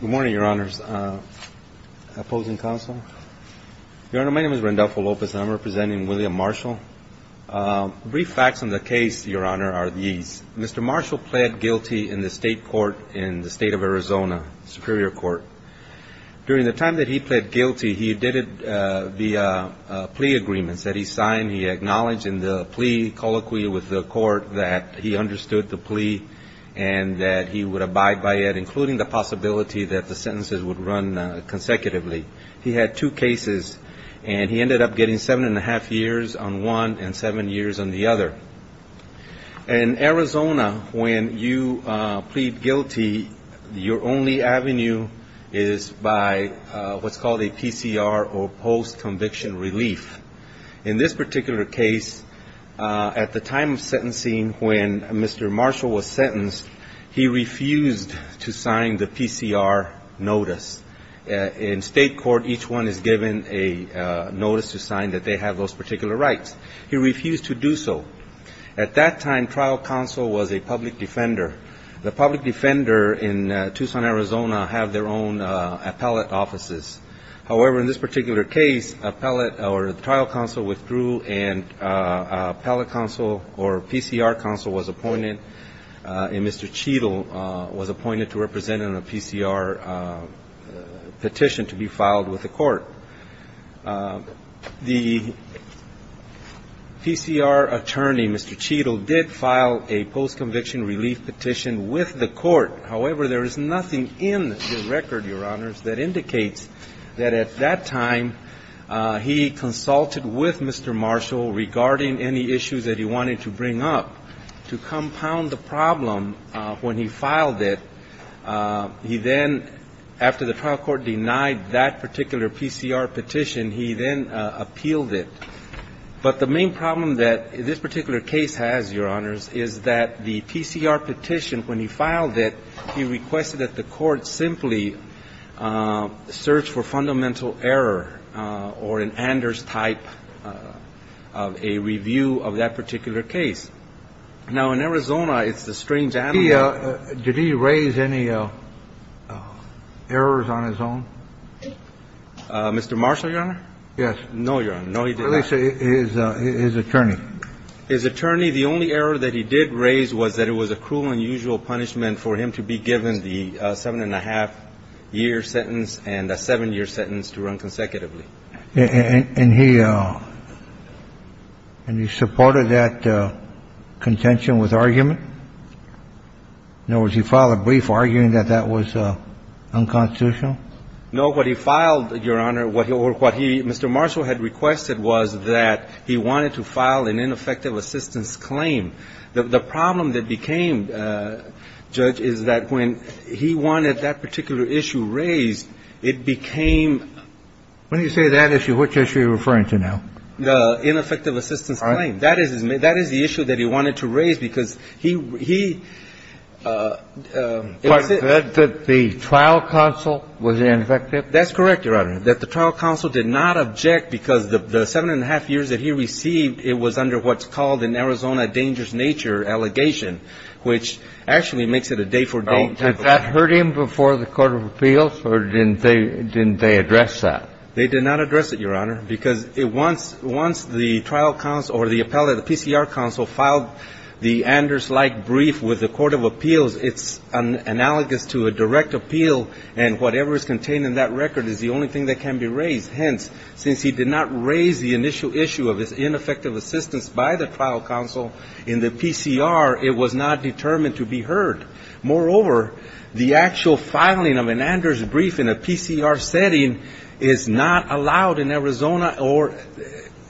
Good morning, Your Honors. Opposing counsel. Your Honor, my name is Randolpho Lopez, and I'm representing William Marshall. Brief facts on the case, Your Honor, are these. Mr. Marshall pled guilty in the state court in the state of Arizona, Superior Court. During the time that he pled guilty, he did it via plea agreements that he signed. He acknowledged in the plea colloquy with the court that he understood the plea and that he would abide by it, including the possibility that the sentences would run consecutively. He had two cases, and he ended up getting seven and a half years on one and seven years on the other. In Arizona, when you plead guilty, your only avenue is by what's called a PCR, or post-conviction relief. In this particular case, at the time of sentencing, when Mr. Marshall was sentenced, he refused to sign the PCR notice. In state court, each one is given a notice to sign that they have those particular rights. He refused to do so. At that time, trial counsel was a public defender. The public defender in Tucson, Arizona, have their own appellate offices. However, in this particular case, appellate or trial counsel withdrew, and appellate counsel or PCR counsel was appointed, and Mr. Cheadle was appointed to represent on a PCR petition to be filed with the court. The PCR attorney, Mr. Cheadle, did file a post-conviction relief petition with the court. However, there is nothing in the record, Your Honors, that indicates that at that time, he consulted with Mr. Marshall regarding any issues that he wanted to bring up to compound the problem when he filed it. He then, after the trial court denied that particular PCR petition, he then appealed it. But the main problem that this particular case has, Your Honors, is that the PCR petition, when he filed it, he requested that the court simply search for fundamental error or an Anders type of a review of that particular case. Now, in Arizona, it's a strange animal. Did he raise any errors on his own? Mr. Marshall, Your Honor? Yes. No, Your Honor. No, he did not. At least his attorney. His attorney. The only error that he did raise was that it was a cruel and unusual punishment for him to be given the seven-and-a-half-year sentence and a seven-year sentence to run consecutively. And he supported that contention with argument? In other words, he filed a brief arguing that that was unconstitutional? No. No, what he filed, Your Honor, what he or what he Mr. Marshall had requested was that he wanted to file an ineffective assistance claim. The problem that became, Judge, is that when he wanted that particular issue raised, it became. When you say that issue, which issue are you referring to now? The ineffective assistance claim. All right. That is the issue that he wanted to raise, because he – Was it that the trial counsel was ineffective? That's correct, Your Honor, that the trial counsel did not object because the seven-and-a-half years that he received, it was under what's called an Arizona dangerous nature allegation, which actually makes it a day-for-day. Had that hurt him before the court of appeals, or didn't they address that? They did not address it, Your Honor, because once the trial counsel or the appellate, filed the Anders-like brief with the court of appeals, it's analogous to a direct appeal, and whatever is contained in that record is the only thing that can be raised. Hence, since he did not raise the initial issue of his ineffective assistance by the trial counsel in the PCR, it was not determined to be heard. Moreover, the actual filing of an Anders brief in a PCR setting is not allowed in Arizona, or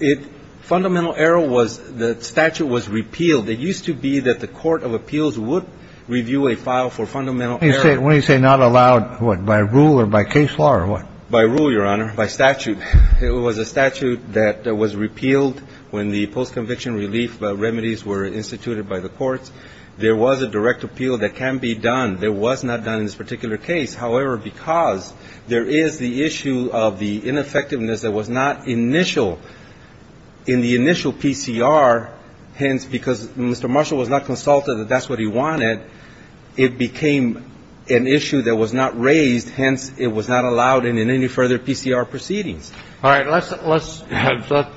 it – fundamental error was the statute was repealed. It used to be that the court of appeals would review a file for fundamental error. When you say not allowed, what, by rule or by case law or what? By rule, Your Honor, by statute. It was a statute that was repealed when the post-conviction relief remedies were instituted by the courts. There was a direct appeal that can be done. It was not done in this particular case. However, because there is the issue of the ineffectiveness that was not initial in the initial PCR, hence, because Mr. Marshall was not consulted that that's what he wanted, it became an issue that was not raised, hence, it was not allowed in any further PCR proceedings. All right. Let's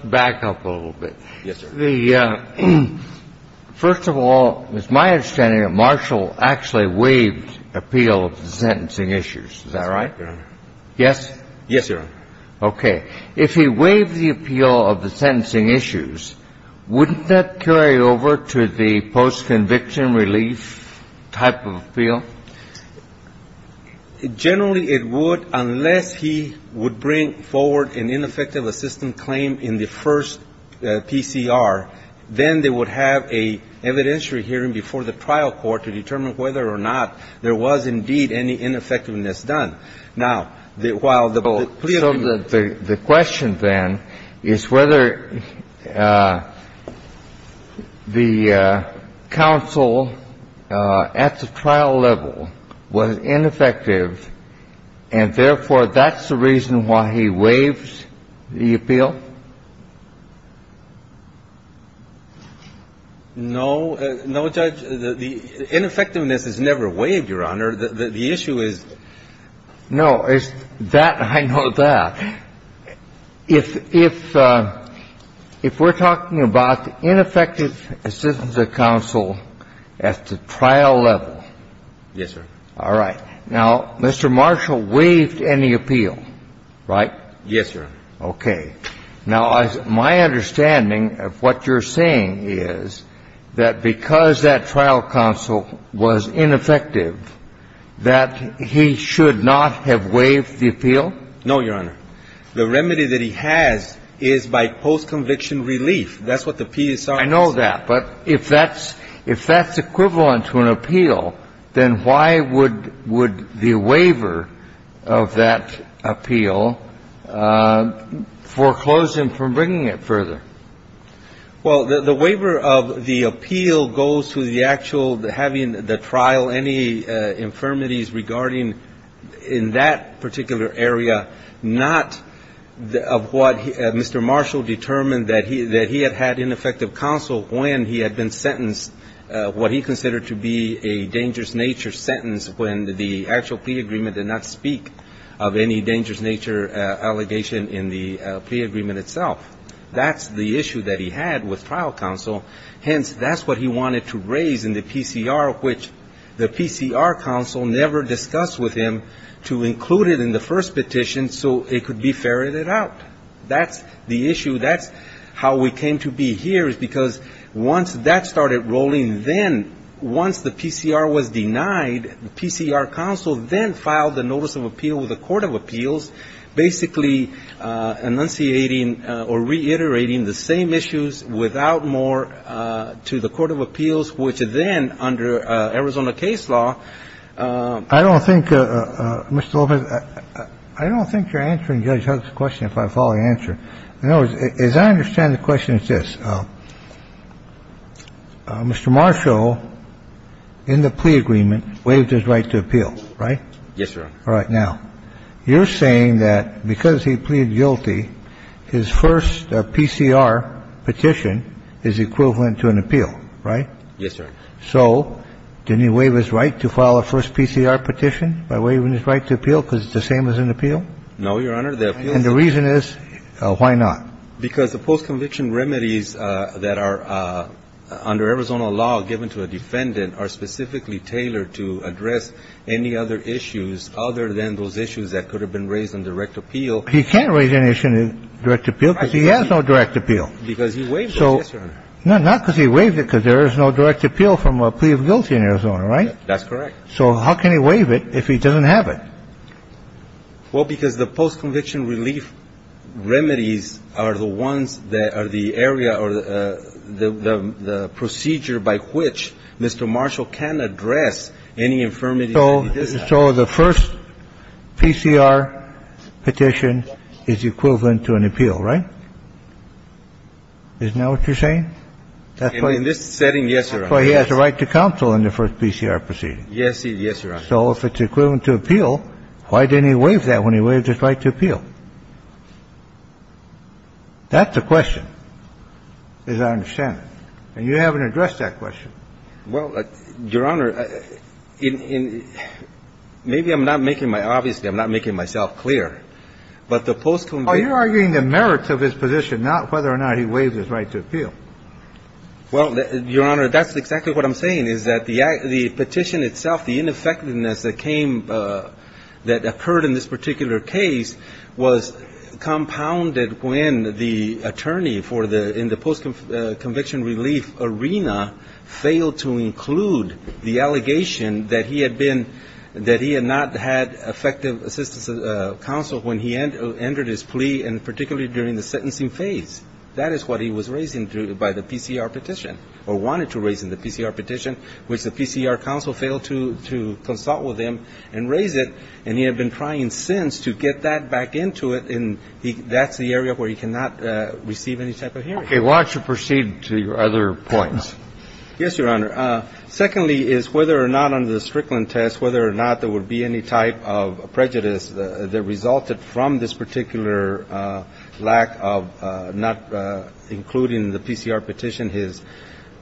back up a little bit. Yes, sir. The – first of all, it's my understanding that Marshall actually waived appeal of the sentencing issues. Is that right? Yes? Yes, Your Honor. Okay. If he waived the appeal of the sentencing issues, wouldn't that carry over to the post-conviction relief type of appeal? Generally, it would, unless he would bring forward an ineffective assistance claim in the first PCR. Then they would have an evidentiary hearing before the trial court to determine whether or not there was indeed any ineffectiveness done. Now, while the plea agreement – No, no, Judge. The ineffectiveness is never waived, Your Honor. The issue is – No. It's that. I know that. If we're talking about the ineffective assistance of counsel at the trial level, Yes, sir. All right. Now, Mr. Marshall waived any appeal, right? Yes, Your Honor. Okay. Now, my understanding of what you're saying is that because that trial counsel was ineffective, that he should not have waived the appeal? No, Your Honor. The remedy that he has is by post-conviction relief. That's what the PSR is. I know that. But if that's equivalent to an appeal, then why would the waiver of that appeal foreclose him from bringing it further? Well, the waiver of the appeal goes to the actual having the trial any infirmities regarding in that particular area, not of what Mr. Marshall determined that he had had ineffective counsel when he had been sentenced what he considered to be a dangerous nature sentence when the actual plea agreement did not speak of any dangerous nature allegation in the plea agreement itself. That's the issue that he had with trial counsel. Hence, that's what he wanted to raise in the PCR, which the PCR counsel never discussed with him to include it in the first petition so it could be ferreted out. That's the issue. That's how we came to be here is because once that started rolling, then once the PCR was denied, the PCR counsel then filed the notice of appeal with the court of appeals, basically enunciating or reiterating the same issues without more to the court of appeals, which then under Arizona case law. I don't think, Mr. Lopez, I don't think you're answering Judge Huck's question if I follow the answer. In other words, as I understand the question, it's this. Mr. Marshall, in the plea agreement, waived his right to appeal, right? Yes, sir. All right. Now, you're saying that because he pleaded guilty, his first PCR petition is equivalent to an appeal, right? Yes, sir. So didn't he waive his right to file a first PCR petition by waiving his right to appeal because it's the same as an appeal? No, Your Honor. And the reason is, why not? Because the postconviction remedies that are under Arizona law given to a defendant are specifically tailored to address any other issues other than those issues that could have been raised on direct appeal. He can't raise any issue on direct appeal because he has no direct appeal. Because he waived it, yes, Your Honor. No, not because he waived it because there is no direct appeal from a plea of guilty in Arizona, right? That's correct. So how can he waive it if he doesn't have it? Well, because the postconviction relief remedies are the ones that are the area or the procedure by which Mr. Marshall can address any infirmity that he does have. So the first PCR petition is equivalent to an appeal, right? Isn't that what you're saying? In this setting, yes, Your Honor. So he has a right to counsel in the first PCR proceeding. Yes, Your Honor. So if it's equivalent to appeal, why didn't he waive that when he waived his right to appeal? That's the question, as I understand it. And you haven't addressed that question. Well, Your Honor, maybe I'm not making my – obviously, I'm not making myself clear. But the postconviction – Oh, you're arguing the merits of his position, not whether or not he waived his right to appeal. Well, Your Honor, that's exactly what I'm saying, is that the petition itself, the ineffectiveness that came – that occurred in this particular case was compounded when the attorney for the – in the postconviction relief arena failed to include the allegation that he had been – that he had not had effective assistance of counsel when he entered his plea, and particularly during the sentencing phase. That is what he was raising by the PCR petition, or wanted to raise in the PCR petition, which the PCR counsel failed to consult with him and raise it. And he had been trying since to get that back into it, and that's the area where he cannot receive any type of hearing. Okay. Why don't you proceed to your other points? Yes, Your Honor. Secondly is whether or not under the Strickland test, whether or not there would be any type of prejudice that resulted from this particular lack of not including the PCR petition, his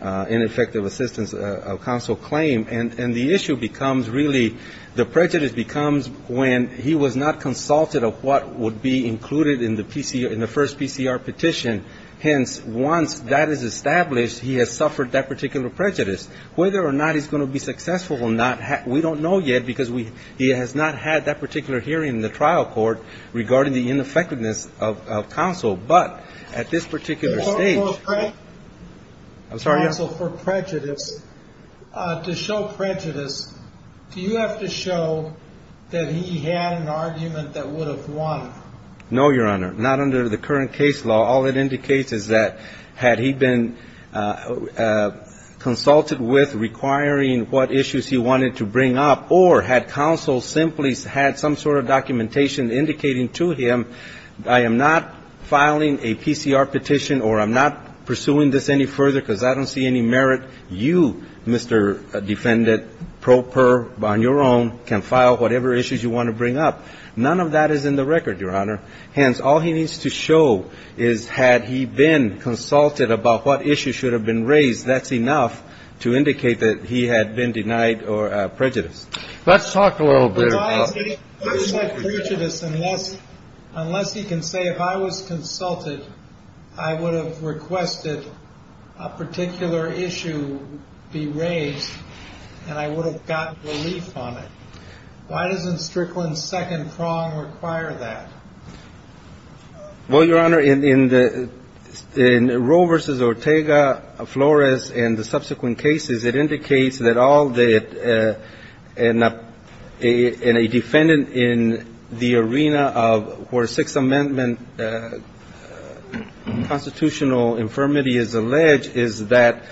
ineffective assistance of counsel claim. And the issue becomes really – the prejudice becomes when he was not consulted of what would be included in the first PCR petition. Hence, once that is established, he has suffered that particular prejudice. Whether or not he's going to be successful or not, we don't know yet, because he has not had that particular hearing in the trial court regarding the ineffectiveness of counsel. But at this particular stage. Counsel for prejudice, to show prejudice, do you have to show that he had an argument that would have won? No, Your Honor. Not under the current case law. All it indicates is that had he been consulted with requiring what issues he wanted to bring up or had counsel simply had some sort of documentation indicating to him, I am not filing a PCR petition or I'm not pursuing this any further because I don't see any merit. You, Mr. Defendant, pro per on your own, can file whatever issues you want to bring up. None of that is in the record, Your Honor. Hence, all he needs to show is had he been consulted about what issues should have been raised, that's enough to indicate that he had been denied prejudice. Let's talk a little bit about prejudice unless he can say if I was consulted, I would have requested a particular issue be raised and I would have gotten relief on it. Why doesn't Strickland's second prong require that? Well, Your Honor, in Roe v. Ortega, Flores, and the subsequent cases, it indicates that all that a defendant in the arena of where Sixth Amendment constitutional infirmity is alleged is that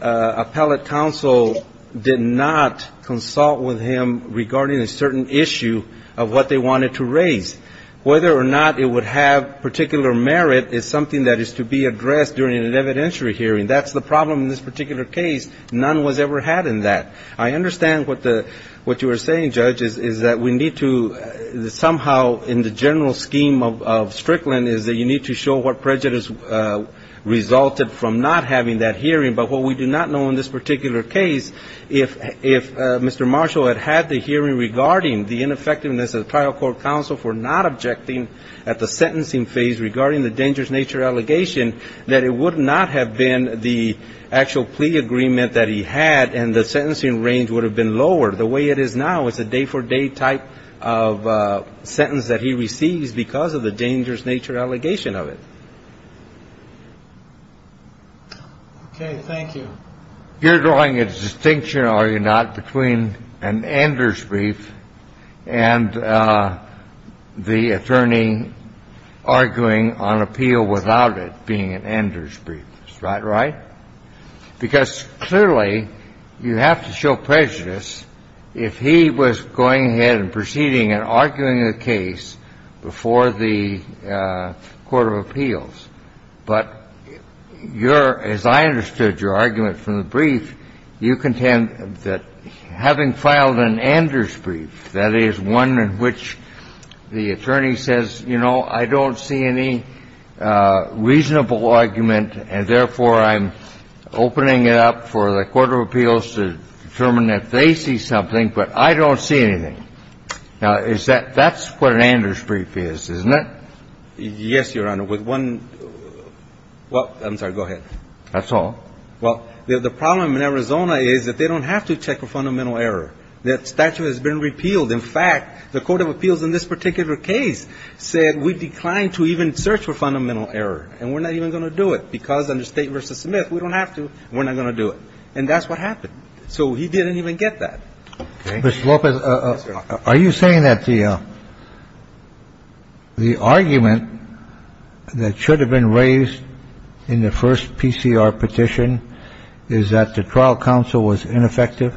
appellate counsel did not consult with him regarding a certain issue of what they wanted to raise. Whether or not it would have particular merit is something that is to be addressed during an evidentiary hearing. That's the problem in this particular case. None was ever had in that. I understand what you are saying, Judge, is that we need to somehow in the general scheme of Strickland is that you need to show what prejudice resulted from not having that hearing. But what we do not know in this particular case, if Mr. Marshall had had the hearing regarding the ineffectiveness of the trial court counsel for not objecting at the sentencing phase regarding the dangerous nature allegation, that it would not have been the actual plea agreement that he had and the sentencing range would have been lowered the way it is now. It's a day-for-day type of sentence that he receives because of the dangerous nature allegation of it. Okay. Thank you. You're drawing a distinction, are you not, between an Anders brief and the attorney arguing on appeal without it being an Anders brief? Is that right? Because clearly you have to show prejudice if he was going ahead and proceeding and arguing a case before the court of appeals. But your – as I understood your argument from the brief, you contend that having filed an Anders brief, that is, one in which the attorney says, you know, I don't see any reasonable argument, and therefore I'm opening it up for the court of appeals to determine if they see something, but I don't see anything. Now, is that – that's what an Anders brief is, isn't it? Yes, Your Honor. With one – well, I'm sorry. Go ahead. That's all? Well, the problem in Arizona is that they don't have to check for fundamental error. That statute has been repealed. In fact, the court of appeals in this particular case said we declined to even search for fundamental error, and we're not even going to do it because under State v. Smith, we don't have to. We're not going to do it. And that's what happened. So he didn't even get that. Okay. Mr. Lopez, are you saying that the – the argument that should have been raised in the first PCR petition is that the trial counsel was ineffective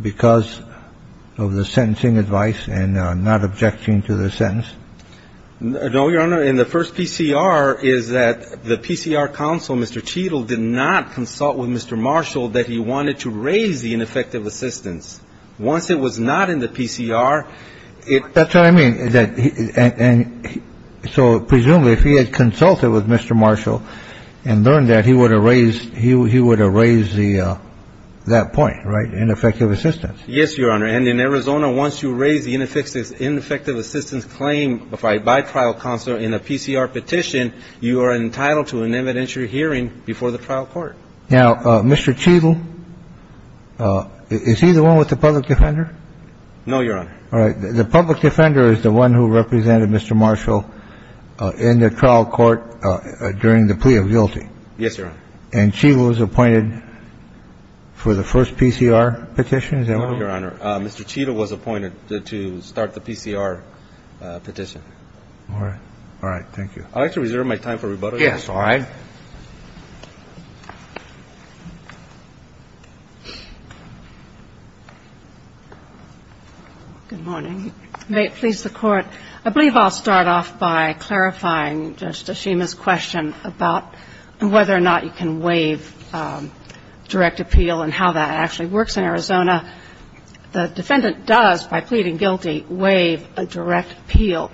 because of the sentencing advice and not objecting to the sentence? No, Your Honor. In the first PCR is that the PCR counsel, Mr. Cheadle, did not consult with Mr. Marshall that he wanted to raise the ineffective assistance. Once it was not in the PCR, it – That's what I mean. And so presumably if he had consulted with Mr. Marshall and learned that, he would have raised – he would have raised the – that point, right? Ineffective assistance. Yes, Your Honor. And in Arizona, once you raise the ineffective assistance claim by trial counsel in a PCR petition, you are entitled to an evidentiary hearing before the trial court. Now, Mr. Cheadle, is he the one with the public defender? No, Your Honor. All right. The public defender is the one who represented Mr. Marshall in the trial court during the plea of guilty. Yes, Your Honor. And Cheadle was appointed for the first PCR petition? Is that right? No, Your Honor. Mr. Cheadle was appointed to start the PCR petition. All right. All right. Thank you. I'd like to reserve my time for rebuttal. Yes. All right. Good morning. May it please the Court. I believe I'll start off by clarifying Justice Schema's question about whether or not you can waive direct appeal and how that actually works in Arizona. The defendant does, by pleading guilty, waive a direct appeal,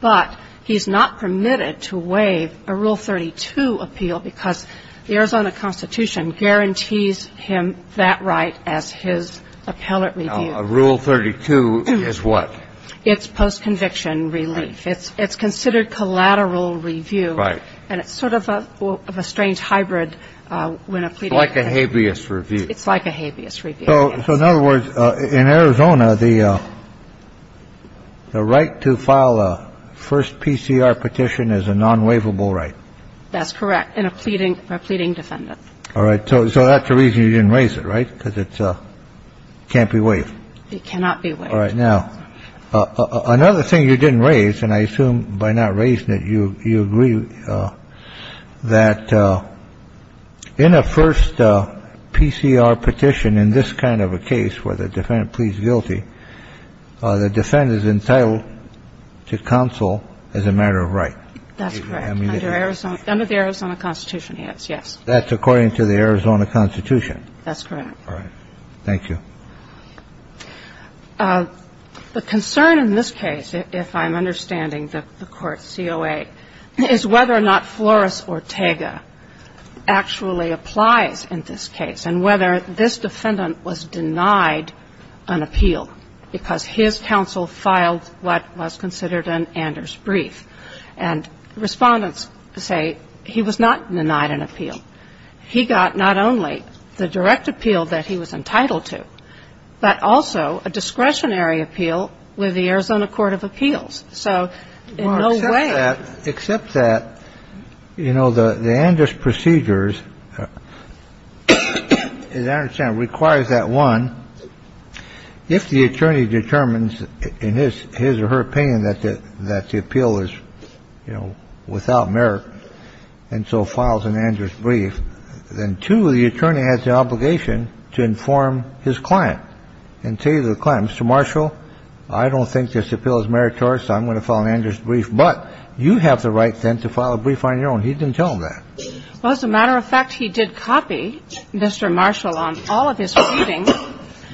but he's not permitted to waive a Rule 32 appeal because the Arizona Constitution guarantees him that right as his appellate review. Now, Rule 32 is what? It's post-conviction relief. Right. It's considered collateral review. Right. And it's sort of a strange hybrid when a pleading guilty. It's like a habeas review. It's like a habeas review. So in other words, in Arizona, the right to file a first PCR petition is a non-waivable right. That's correct. In a pleading, a pleading defendant. All right. So that's the reason you didn't raise it. Right. Because it can't be waived. It cannot be waived. All right. Now, another thing you didn't raise, and I assume by not raising it, you agree that in a first PCR petition, in this kind of a case where the defendant pleads guilty, the defendant is entitled to counsel as a matter of right. That's correct. Under the Arizona Constitution, he is, yes. That's according to the Arizona Constitution. That's correct. All right. Thank you. The concern in this case, if I'm understanding the Court's COA, is whether or not Flores Ortega actually applies in this case, and whether this defendant was denied an appeal because his counsel filed what was considered an Anders brief. And Respondents say he was not denied an appeal. He got not only the direct appeal that he was entitled to, but also a discretionary appeal with the Arizona Court of Appeals. So in no way. Well, except that, you know, the Anders procedures, as I understand it, requires that, one, if the attorney determines in his or her opinion that the appeal is, you know, without merit and so files an Anders brief, then, two, the attorney has the obligation to inform his client and tell you the client, Mr. Marshall, I don't think this appeal is meritorious. I'm going to file an Anders brief. But you have the right then to file a brief on your own. He didn't tell him that. Well, as a matter of fact, he did copy Mr. Marshall on all of his pleadings.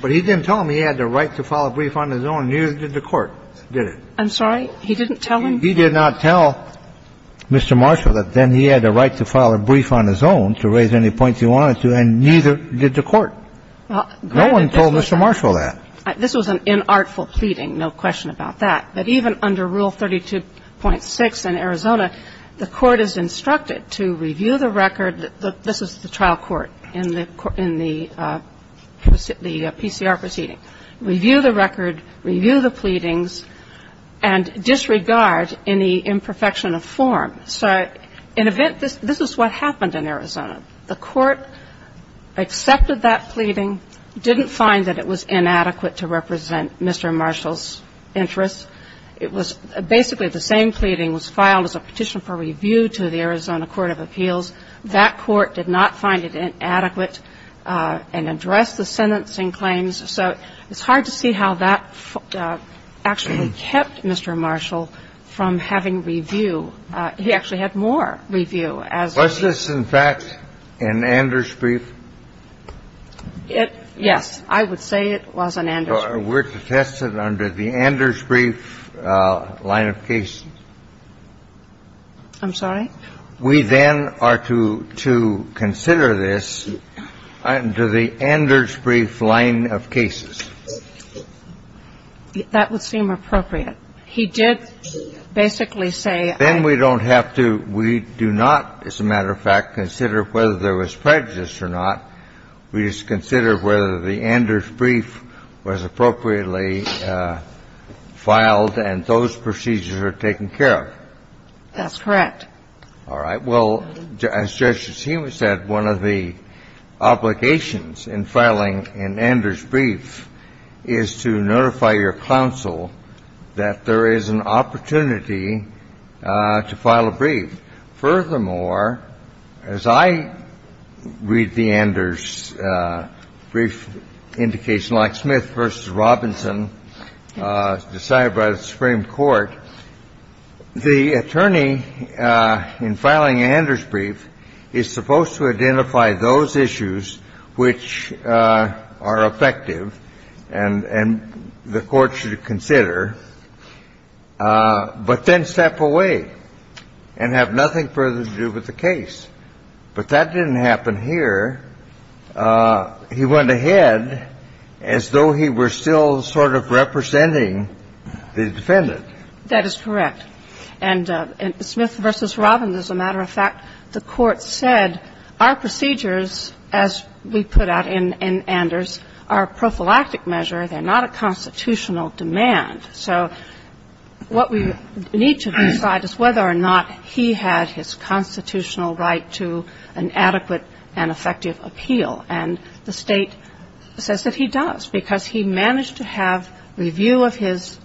But he didn't tell him he had the right to file a brief on his own. Neither did the Court, did it? I'm sorry? He didn't tell him? He did not tell Mr. Marshall that then he had the right to file a brief on his own to raise any points he wanted to, and neither did the Court. No one told Mr. Marshall that. This was an inartful pleading. No question about that. But even under Rule 32.6 in Arizona, the Court is instructed to review the record that this is the trial court in the PCR proceeding, review the record, review the pleadings, and disregard any imperfection of form. So in a bit, this is what happened in Arizona. The Court accepted that pleading, didn't find that it was inadequate to represent Mr. Marshall's interests. It was basically the same pleading was filed as a petition for review to the Arizona Court of Appeals. That Court did not find it inadequate and address the sentencing claims. So it's hard to see how that actually kept Mr. Marshall from having review. He actually had more review. The Court did have to review as a brief. Was this, in fact, an Anders brief? It yes. I would say it was an Anders brief. So we're to test it under the Anders brief line of cases. I'm sorry? We then are to consider this under the Anders brief line of cases. That would seem appropriate. He did basically say I... Then we don't have to, we do not, as a matter of fact, consider whether there was prejudice or not. We just consider whether the Anders brief was appropriately filed and those procedures are taken care of. That's correct. All right. Well, as Judge Shishima said, one of the obligations in filing an Anders brief is to notify your counsel that there is an opportunity to file a brief. Furthermore, as I read the Anders brief indication like Smith v. Robinson decided by the Supreme Court, the attorney in filing an Anders brief is supposed to identify those issues which are effective and the Court should consider, but then step away and have nothing further to do with the case. But that didn't happen here. defender, he went ahead as though he were still sort of representing the defendant. That is correct. And Smith v. Robinson, as a matter of fact, the Court said, our procedures as we put out in Anders are a prophylactic measure. They're not a constitutional demand. So what we need to decide is whether or not he had his constitutional right to an adequate and effective appeal, and the State says that he does because he managed to have review of his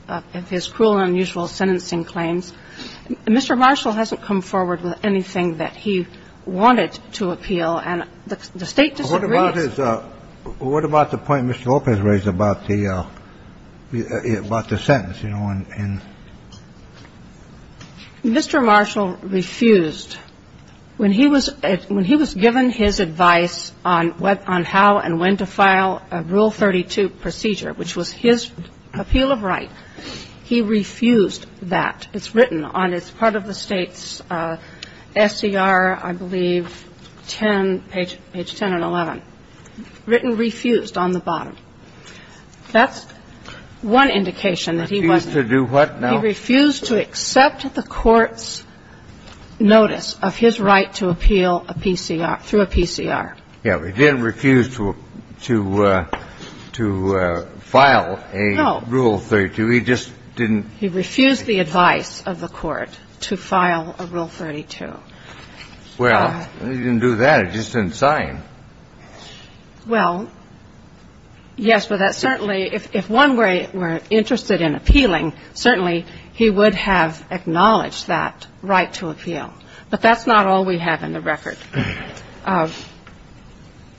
cruel and unusual sentencing claims. And Mr. Marshall hasn't come forward with anything that he wanted to appeal. And the State disagrees. What about the point Mr. Lopez raised about the sentence, you know? Mr. Marshall refused. When he was given his advice on how and when to file Rule 32 procedure, which was his the State's SCR, I believe, page 10 and 11, written refused on the bottom. That's one indication that he was to do what? He refused to accept the Court's notice of his right to appeal a PCR, through a PCR. Yeah. He didn't refuse to file a Rule 32. No. He just didn't. He refused the advice of the Court to file a Rule 32. Well, he didn't do that. He just didn't sign. Well, yes, but that certainly, if one were interested in appealing, certainly he would have acknowledged that right to appeal. But that's not all we have in the record.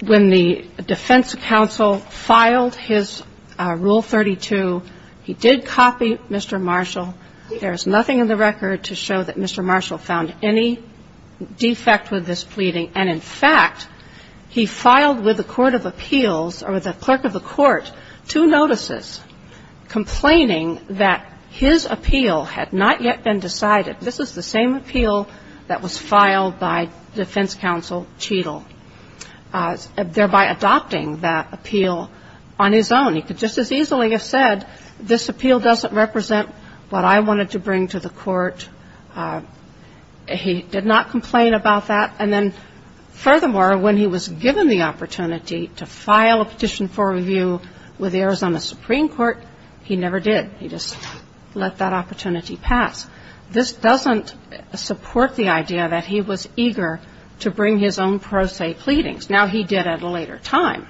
When the defense counsel filed his Rule 32, he did copy Mr. Marshall. There is nothing in the record to show that Mr. Marshall found any defect with this pleading. And, in fact, he filed with the court of appeals or the clerk of the court two notices complaining that his appeal had not yet been decided. This is the same appeal that was filed by defense counsel Cheadle, thereby adopting that appeal on his own. He could just as easily have said, this appeal doesn't represent what I wanted to bring to the court. He did not complain about that. And then, furthermore, when he was given the opportunity to file a petition for review with the Arizona Supreme Court, he never did. He just let that opportunity pass. This doesn't support the idea that he was eager to bring his own pro se pleadings. Now, he did at a later time.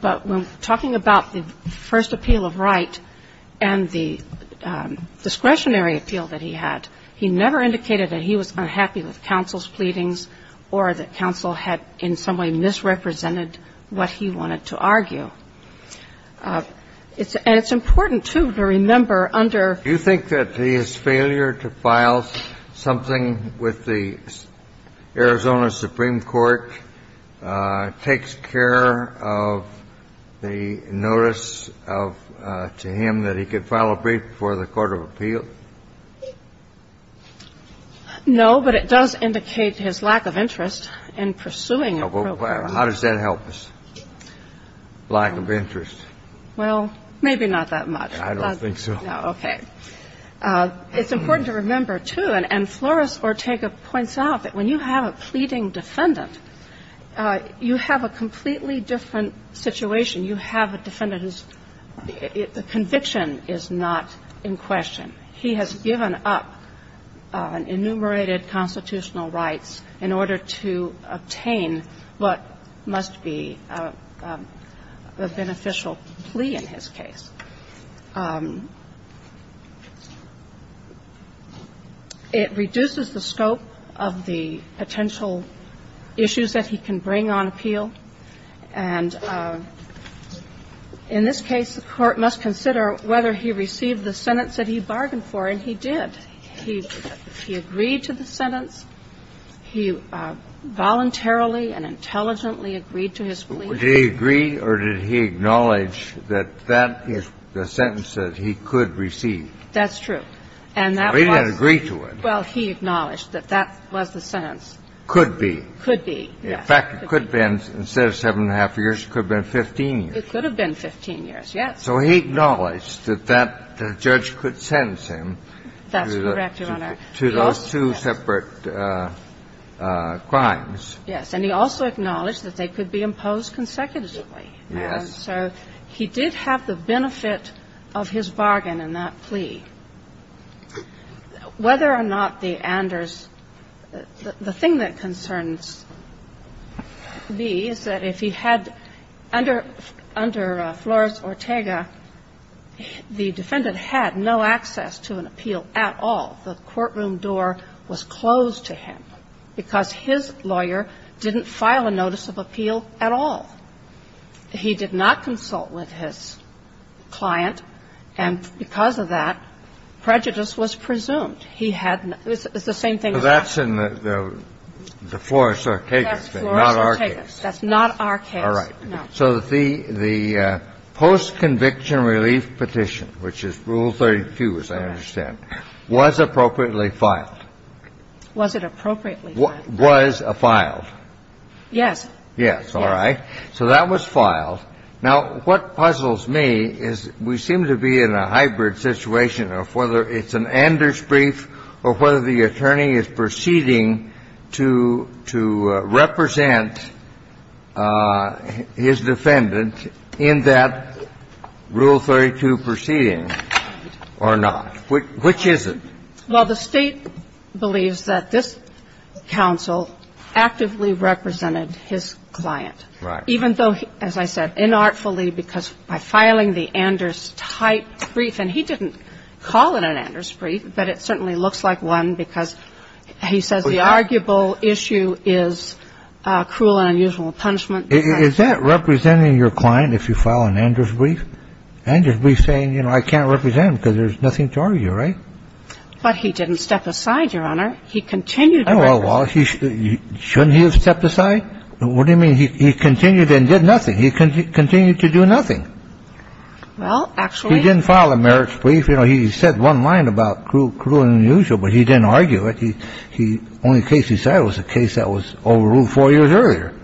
But when talking about the first appeal of right and the discretionary appeal that he had, he never indicated that he was unhappy with counsel's pleadings or that counsel had in some way misrepresented what he wanted to argue. And it's important, too, to remember under ---- Now, does the failure to file something with the Arizona Supreme Court take care of the notice of to him that he could file a brief before the court of appeal? No, but it does indicate his lack of interest in pursuing a program. How does that help us? Lack of interest. Well, maybe not that much. I don't think so. No, okay. It's important to remember, too, and Flores-Ortega points out that when you have a pleading defendant, you have a completely different situation. You have a defendant whose conviction is not in question. He has given up enumerated constitutional rights in order to obtain what must be a beneficial plea in his case. It reduces the scope of the potential issues that he can bring on appeal. And in this case, the Court must consider whether he received the sentence that he bargained for, and he did. He agreed to the sentence. He voluntarily and intelligently agreed to his plea. Did he agree or did he acknowledge that that is the sentence that he could receive? That's true. And that was the... But he didn't agree to it. Well, he acknowledged that that was the sentence. Could be. Could be, yes. In fact, it could have been, instead of seven and a half years, it could have been 15 years. It could have been 15 years, yes. So he acknowledged that that judge could sentence him... That's correct, Your Honor. ...to those two separate crimes. Yes. And he also acknowledged that they could be imposed consecutively. Yes. And so he did have the benefit of his bargain in that plea. Whether or not the Anders – the thing that concerns me is that if he had – under Flores-Ortega, the defendant had no access to an appeal at all. The courtroom door was closed to him because his lawyer didn't file a notice of appeal at all. He did not consult with his client, and because of that, prejudice was presumed. He had – it's the same thing... So that's in the Flores-Ortega case, not our case. That's Flores-Ortega. That's not our case, no. All right. So the post-conviction relief petition, which is Rule 32, as I understand, was appropriately filed. Was it appropriately filed? Was filed. Yes. Yes. All right. So that was filed. Now, what puzzles me is we seem to be in a hybrid situation of whether it's an Anders brief or whether the attorney is proceeding to represent his defendant in that Rule 32 proceeding or not. Which is it? Well, the State believes that this counsel actively represented his client... Right. ...even though, as I said, inartfully, because by filing the Anders-type brief, and he didn't call it an Anders brief, but it certainly looks like one because he says the arguable issue is cruel and unusual punishment. Is that representing your client if you file an Anders brief? Well, I don't think that's representing my client if I file an Anders brief. Anders brief is saying, you know, I can't represent him because there's nothing to argue. Right? But he didn't step aside, Your Honor. He continued to represent him. Well, shouldn't he have stepped aside? What do you mean he continued and did nothing? He continued to do nothing. Well, actually... He didn't file the merits brief. You know, he said one line about cruel and unusual, but he didn't argue it. Well, it was a case that was overruled four years earlier.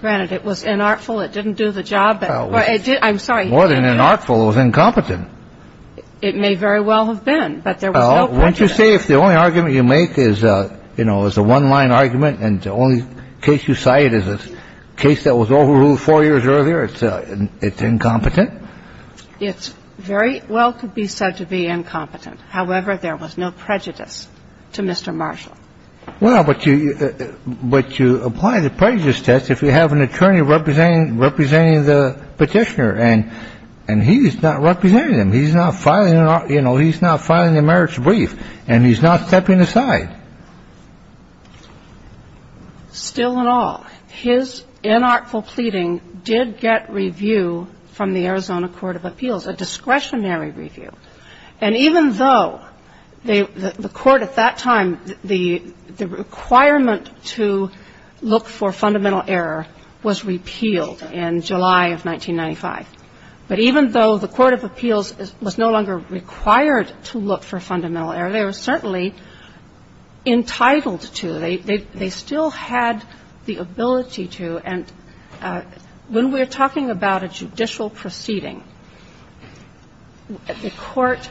Granted, it was unartful, it didn't do the job. I'm sorry. More than unartful, it was incompetent. It may very well have been, but there was no prejudice. Won't you say if the only argument you make is, you know, is a one line argument and the only case you cite is a case that was overruled four years earlier, it's incompetent? It's very well could be said to be incompetent. However, there was no prejudice to Mr. Marshall. Well, but you apply the prejudice test if you have an attorney representing the Petitioner and he's not representing him. He's not filing, you know, he's not filing a marriage brief and he's not stepping aside. Still in all, his unartful pleading did get review from the Arizona Court of Appeals, a discretionary review. And even though the Court at that time, the requirement to look for fundamental error was repealed in July of 1995. But even though the Court of Appeals was no longer required to look for fundamental error, they were certainly entitled to. They still had the ability to. And when we are talking about a judicial proceeding, the Court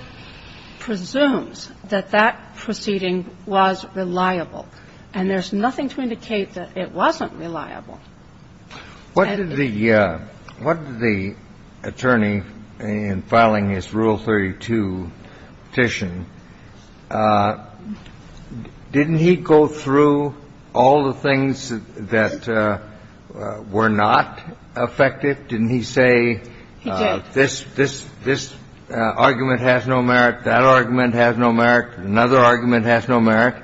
presumes that that proceeding was reliable. And there's nothing to indicate that it wasn't reliable. What did the attorney in filing his Rule 32 petition, didn't he go through all the things that were not effective? Didn't he say this argument has no merit, that argument has no merit, another argument has no merit?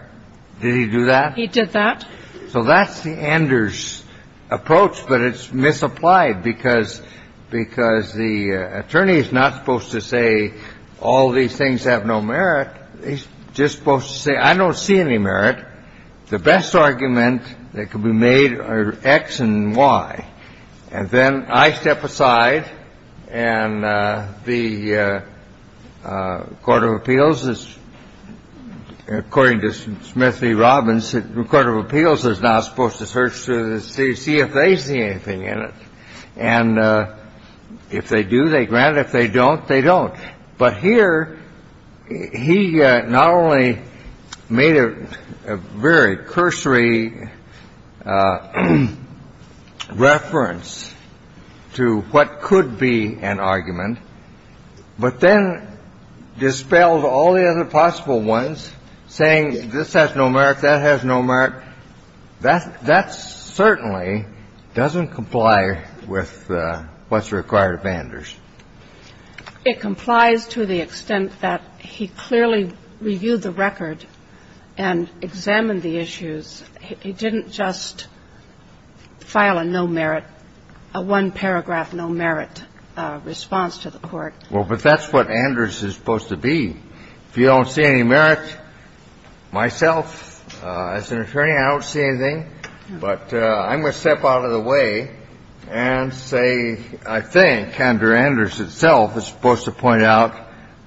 Did he do that? He did that. So that's the Anders approach, but it's misapplied because the attorney is not supposed to say all these things have no merit. He's just supposed to say I don't see any merit. The best argument that could be made are X and Y. And then I step aside and the Court of Appeals is, according to Smith v. Robbins, the Court of Appeals is not supposed to search to see if they see anything in it. And if they do, they grant it. If they don't, they don't. But here he not only made a very cursory reference to what could be an argument, but then dispelled all the other possible ones, saying this has no merit, that has no merit. That certainly doesn't comply with what's required of Anders. It complies to the extent that he clearly reviewed the record and examined the issues. He didn't just file a no merit, a one-paragraph no merit response to the Court. Well, but that's what Anders is supposed to be. If you don't see any merit, myself, as an attorney, I don't see anything. But I'm going to step out of the way and say I think, under Anders itself, is supposed to point out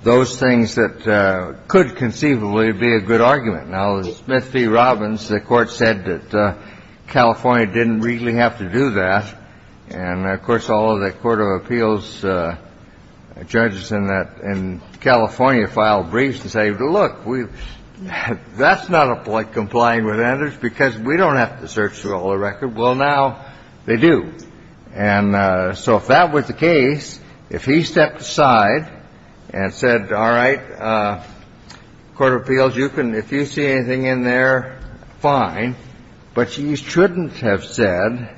those things that could conceivably be a good argument. Now, Smith v. Robbins, the Court said that California didn't really have to do that. And, of course, all of the Court of Appeals judges in California filed briefs to say, look, that's not complying with Anders because we don't have to search through all the record. Well, now they do. And so if that was the case, if he stepped aside and said, all right, Court of Appeals, you can, if you see anything in there, fine. But you shouldn't have said,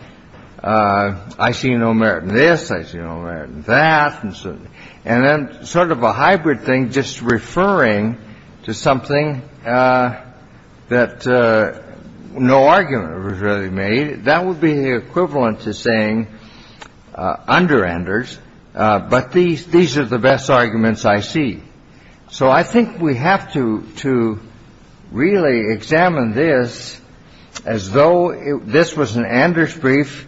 I see no merit in this, I see no merit in that, and so on. And then sort of a hybrid thing, just referring to something that no argument was really made, that would be equivalent to saying, under Anders, but these are the best arguments I see. So I think we have to really examine this as though this was an Anders brief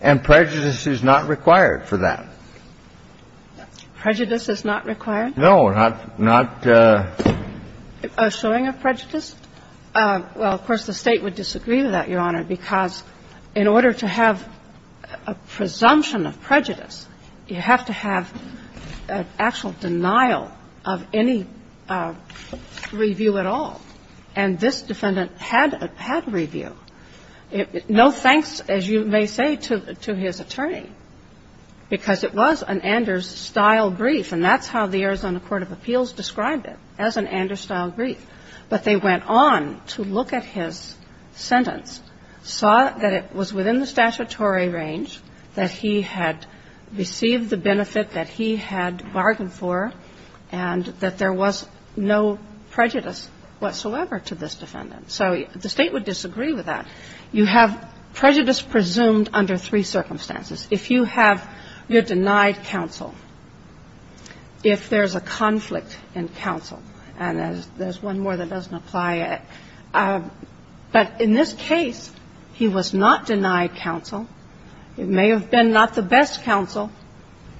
and prejudice is not required for that. Prejudice is not required? No, not the ---- A showing of prejudice? Well, of course, the State would disagree with that, Your Honor, because in order to have a presumption of prejudice, you have to have an actual denial of any review at all, and this defendant had a review, no thanks, as you may say, to his attorney, because it was an Anders-style brief, and that's how the Arizona Court of Appeals described it, as an Anders-style brief. But they went on to look at his sentence, saw that it was within the statutory range, that he had received the benefit that he had bargained for, and that there was no prejudice whatsoever to this defendant. So the State would disagree with that. You have prejudice presumed under three circumstances. If you have your denied counsel, if there's a conflict in counsel, and there's one more that doesn't apply, but in this case, he was not denied counsel. It may have been not the best counsel,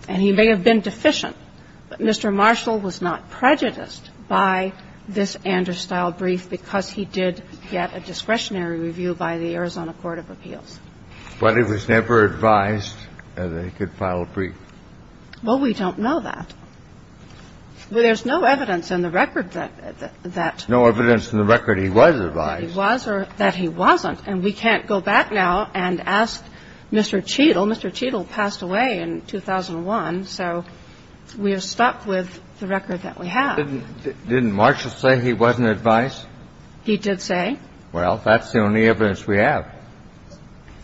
and he may have been deficient, but Mr. Marshall was not prejudiced by this Anders-style brief because he did get a discretionary review by the Arizona Court of Appeals. But he was never advised that he could file a brief. Well, we don't know that. There's no evidence in the record that he was advised. He was, or that he wasn't. And we can't go back now and ask Mr. Cheadle. Mr. Cheadle passed away in 2001, so we are stuck with the record that we have. Didn't Marshall say he wasn't advised? He did say. Well, that's the only evidence we have.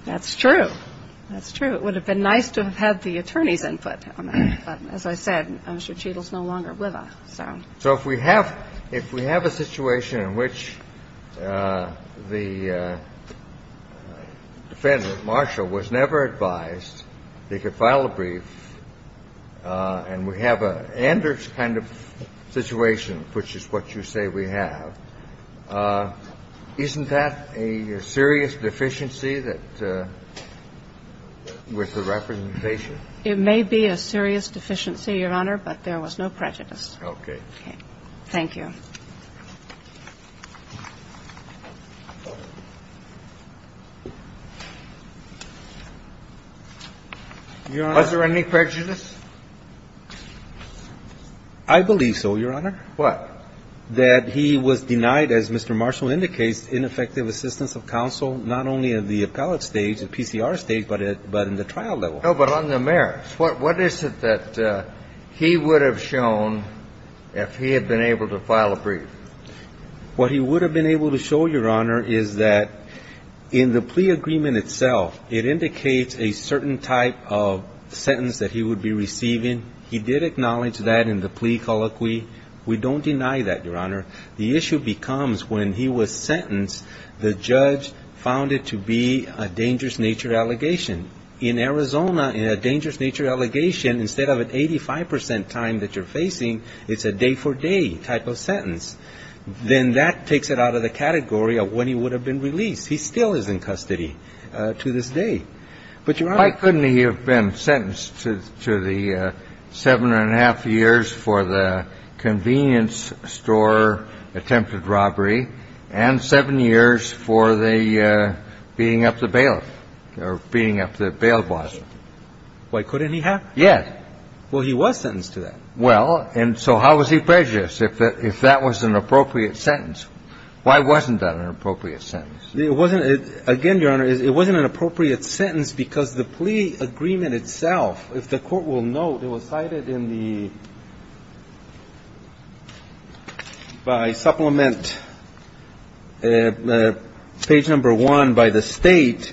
That's true. That's true. It would have been nice to have had the attorney's input on that. But as I said, Mr. Cheadle is no longer with us, so. So if we have a situation in which the defendant, Marshall, was never advised that he could file a brief, and we have an Anders kind of situation, which is what you say we have, isn't that a serious deficiency that with the representation? It may be a serious deficiency, Your Honor, but there was no prejudice. Okay. Thank you. Your Honor. Was there any prejudice? I believe so, Your Honor. What? That he was denied, as Mr. Marshall indicates, ineffective assistance of counsel, not only at the appellate stage, the PCR stage, but in the trial level. No, but on the merits. What is it that he would have shown if he had been able to file a brief? What he would have been able to show, Your Honor, is that in the plea agreement itself, it indicates a certain type of sentence that he would be receiving. He did acknowledge that in the plea colloquy. We don't deny that, Your Honor. The issue becomes when he was sentenced, the judge found it to be a dangerous nature allegation. In Arizona, in a dangerous nature allegation, instead of an 85 percent time that you're facing, it's a day-for-day type of sentence. Then that takes it out of the category of when he would have been released. He still is in custody to this day. Why couldn't he have been sentenced to the seven and a half years for the convenience store attempted robbery and seven years for the beating up the bailiff or beating up the bail boss? Why couldn't he have? Yes. Well, he was sentenced to that. Well, and so how was he prejudiced if that was an appropriate sentence? Why wasn't that an appropriate sentence? It wasn't. Again, Your Honor, it wasn't an appropriate sentence because the plea agreement itself, if the court will note, it was cited in the by supplement page number one by the State.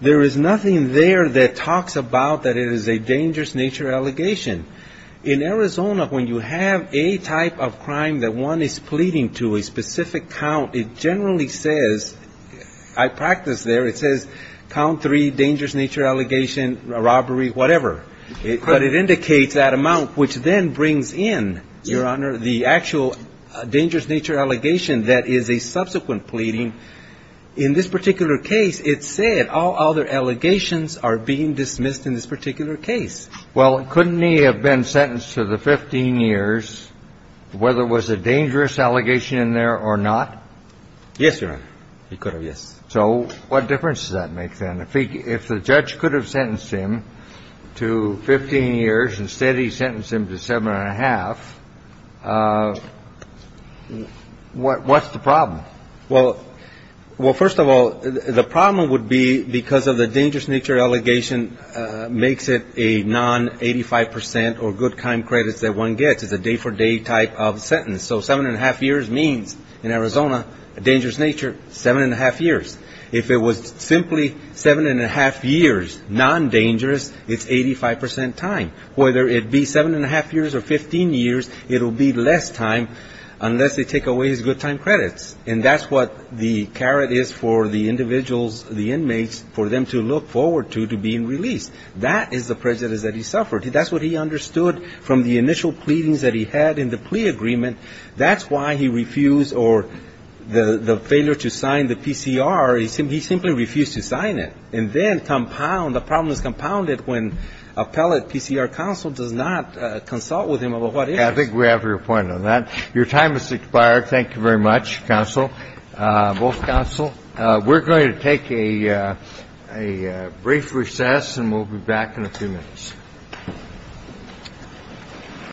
There is nothing there that talks about that it is a dangerous nature allegation. In Arizona, when you have a type of crime that one is pleading to, a specific count, it generally says, I practiced there, it says count three dangerous nature allegation, robbery, whatever. But it indicates that amount, which then brings in, Your Honor, the actual dangerous nature allegation that is a subsequent pleading. In this particular case, it said all other allegations are being dismissed in this particular case. Well, couldn't he have been sentenced to the 15 years, whether it was a dangerous allegation in there or not? Yes, Your Honor. He could have, yes. So what difference does that make then? If the judge could have sentenced him to 15 years, instead he sentenced him to seven and a half, what's the problem? Well, first of all, the problem would be because of the dangerous nature allegation makes it a non-85% or good crime credits that one gets. It's a day for day type of sentence. So seven and a half years means in Arizona, dangerous nature, seven and a half years. If it was simply seven and a half years non-dangerous, it's 85% time. Whether it be seven and a half years or 15 years, it will be less time unless they take away his good time credits. And that's what the carrot is for the individuals, the inmates, for them to look forward to being released. That is the prejudice that he suffered. That's what he understood from the initial pleadings that he had in the plea agreement. That's why he refused or the failure to sign the PCR. He simply refused to sign it. And then compound, the problem is compounded when appellate PCR counsel does not consult with him about what is. I think we have your point on that. Your time has expired. Thank you very much, counsel, both counsel. We're going to take a brief recess and we'll be back in a few minutes. Thank you.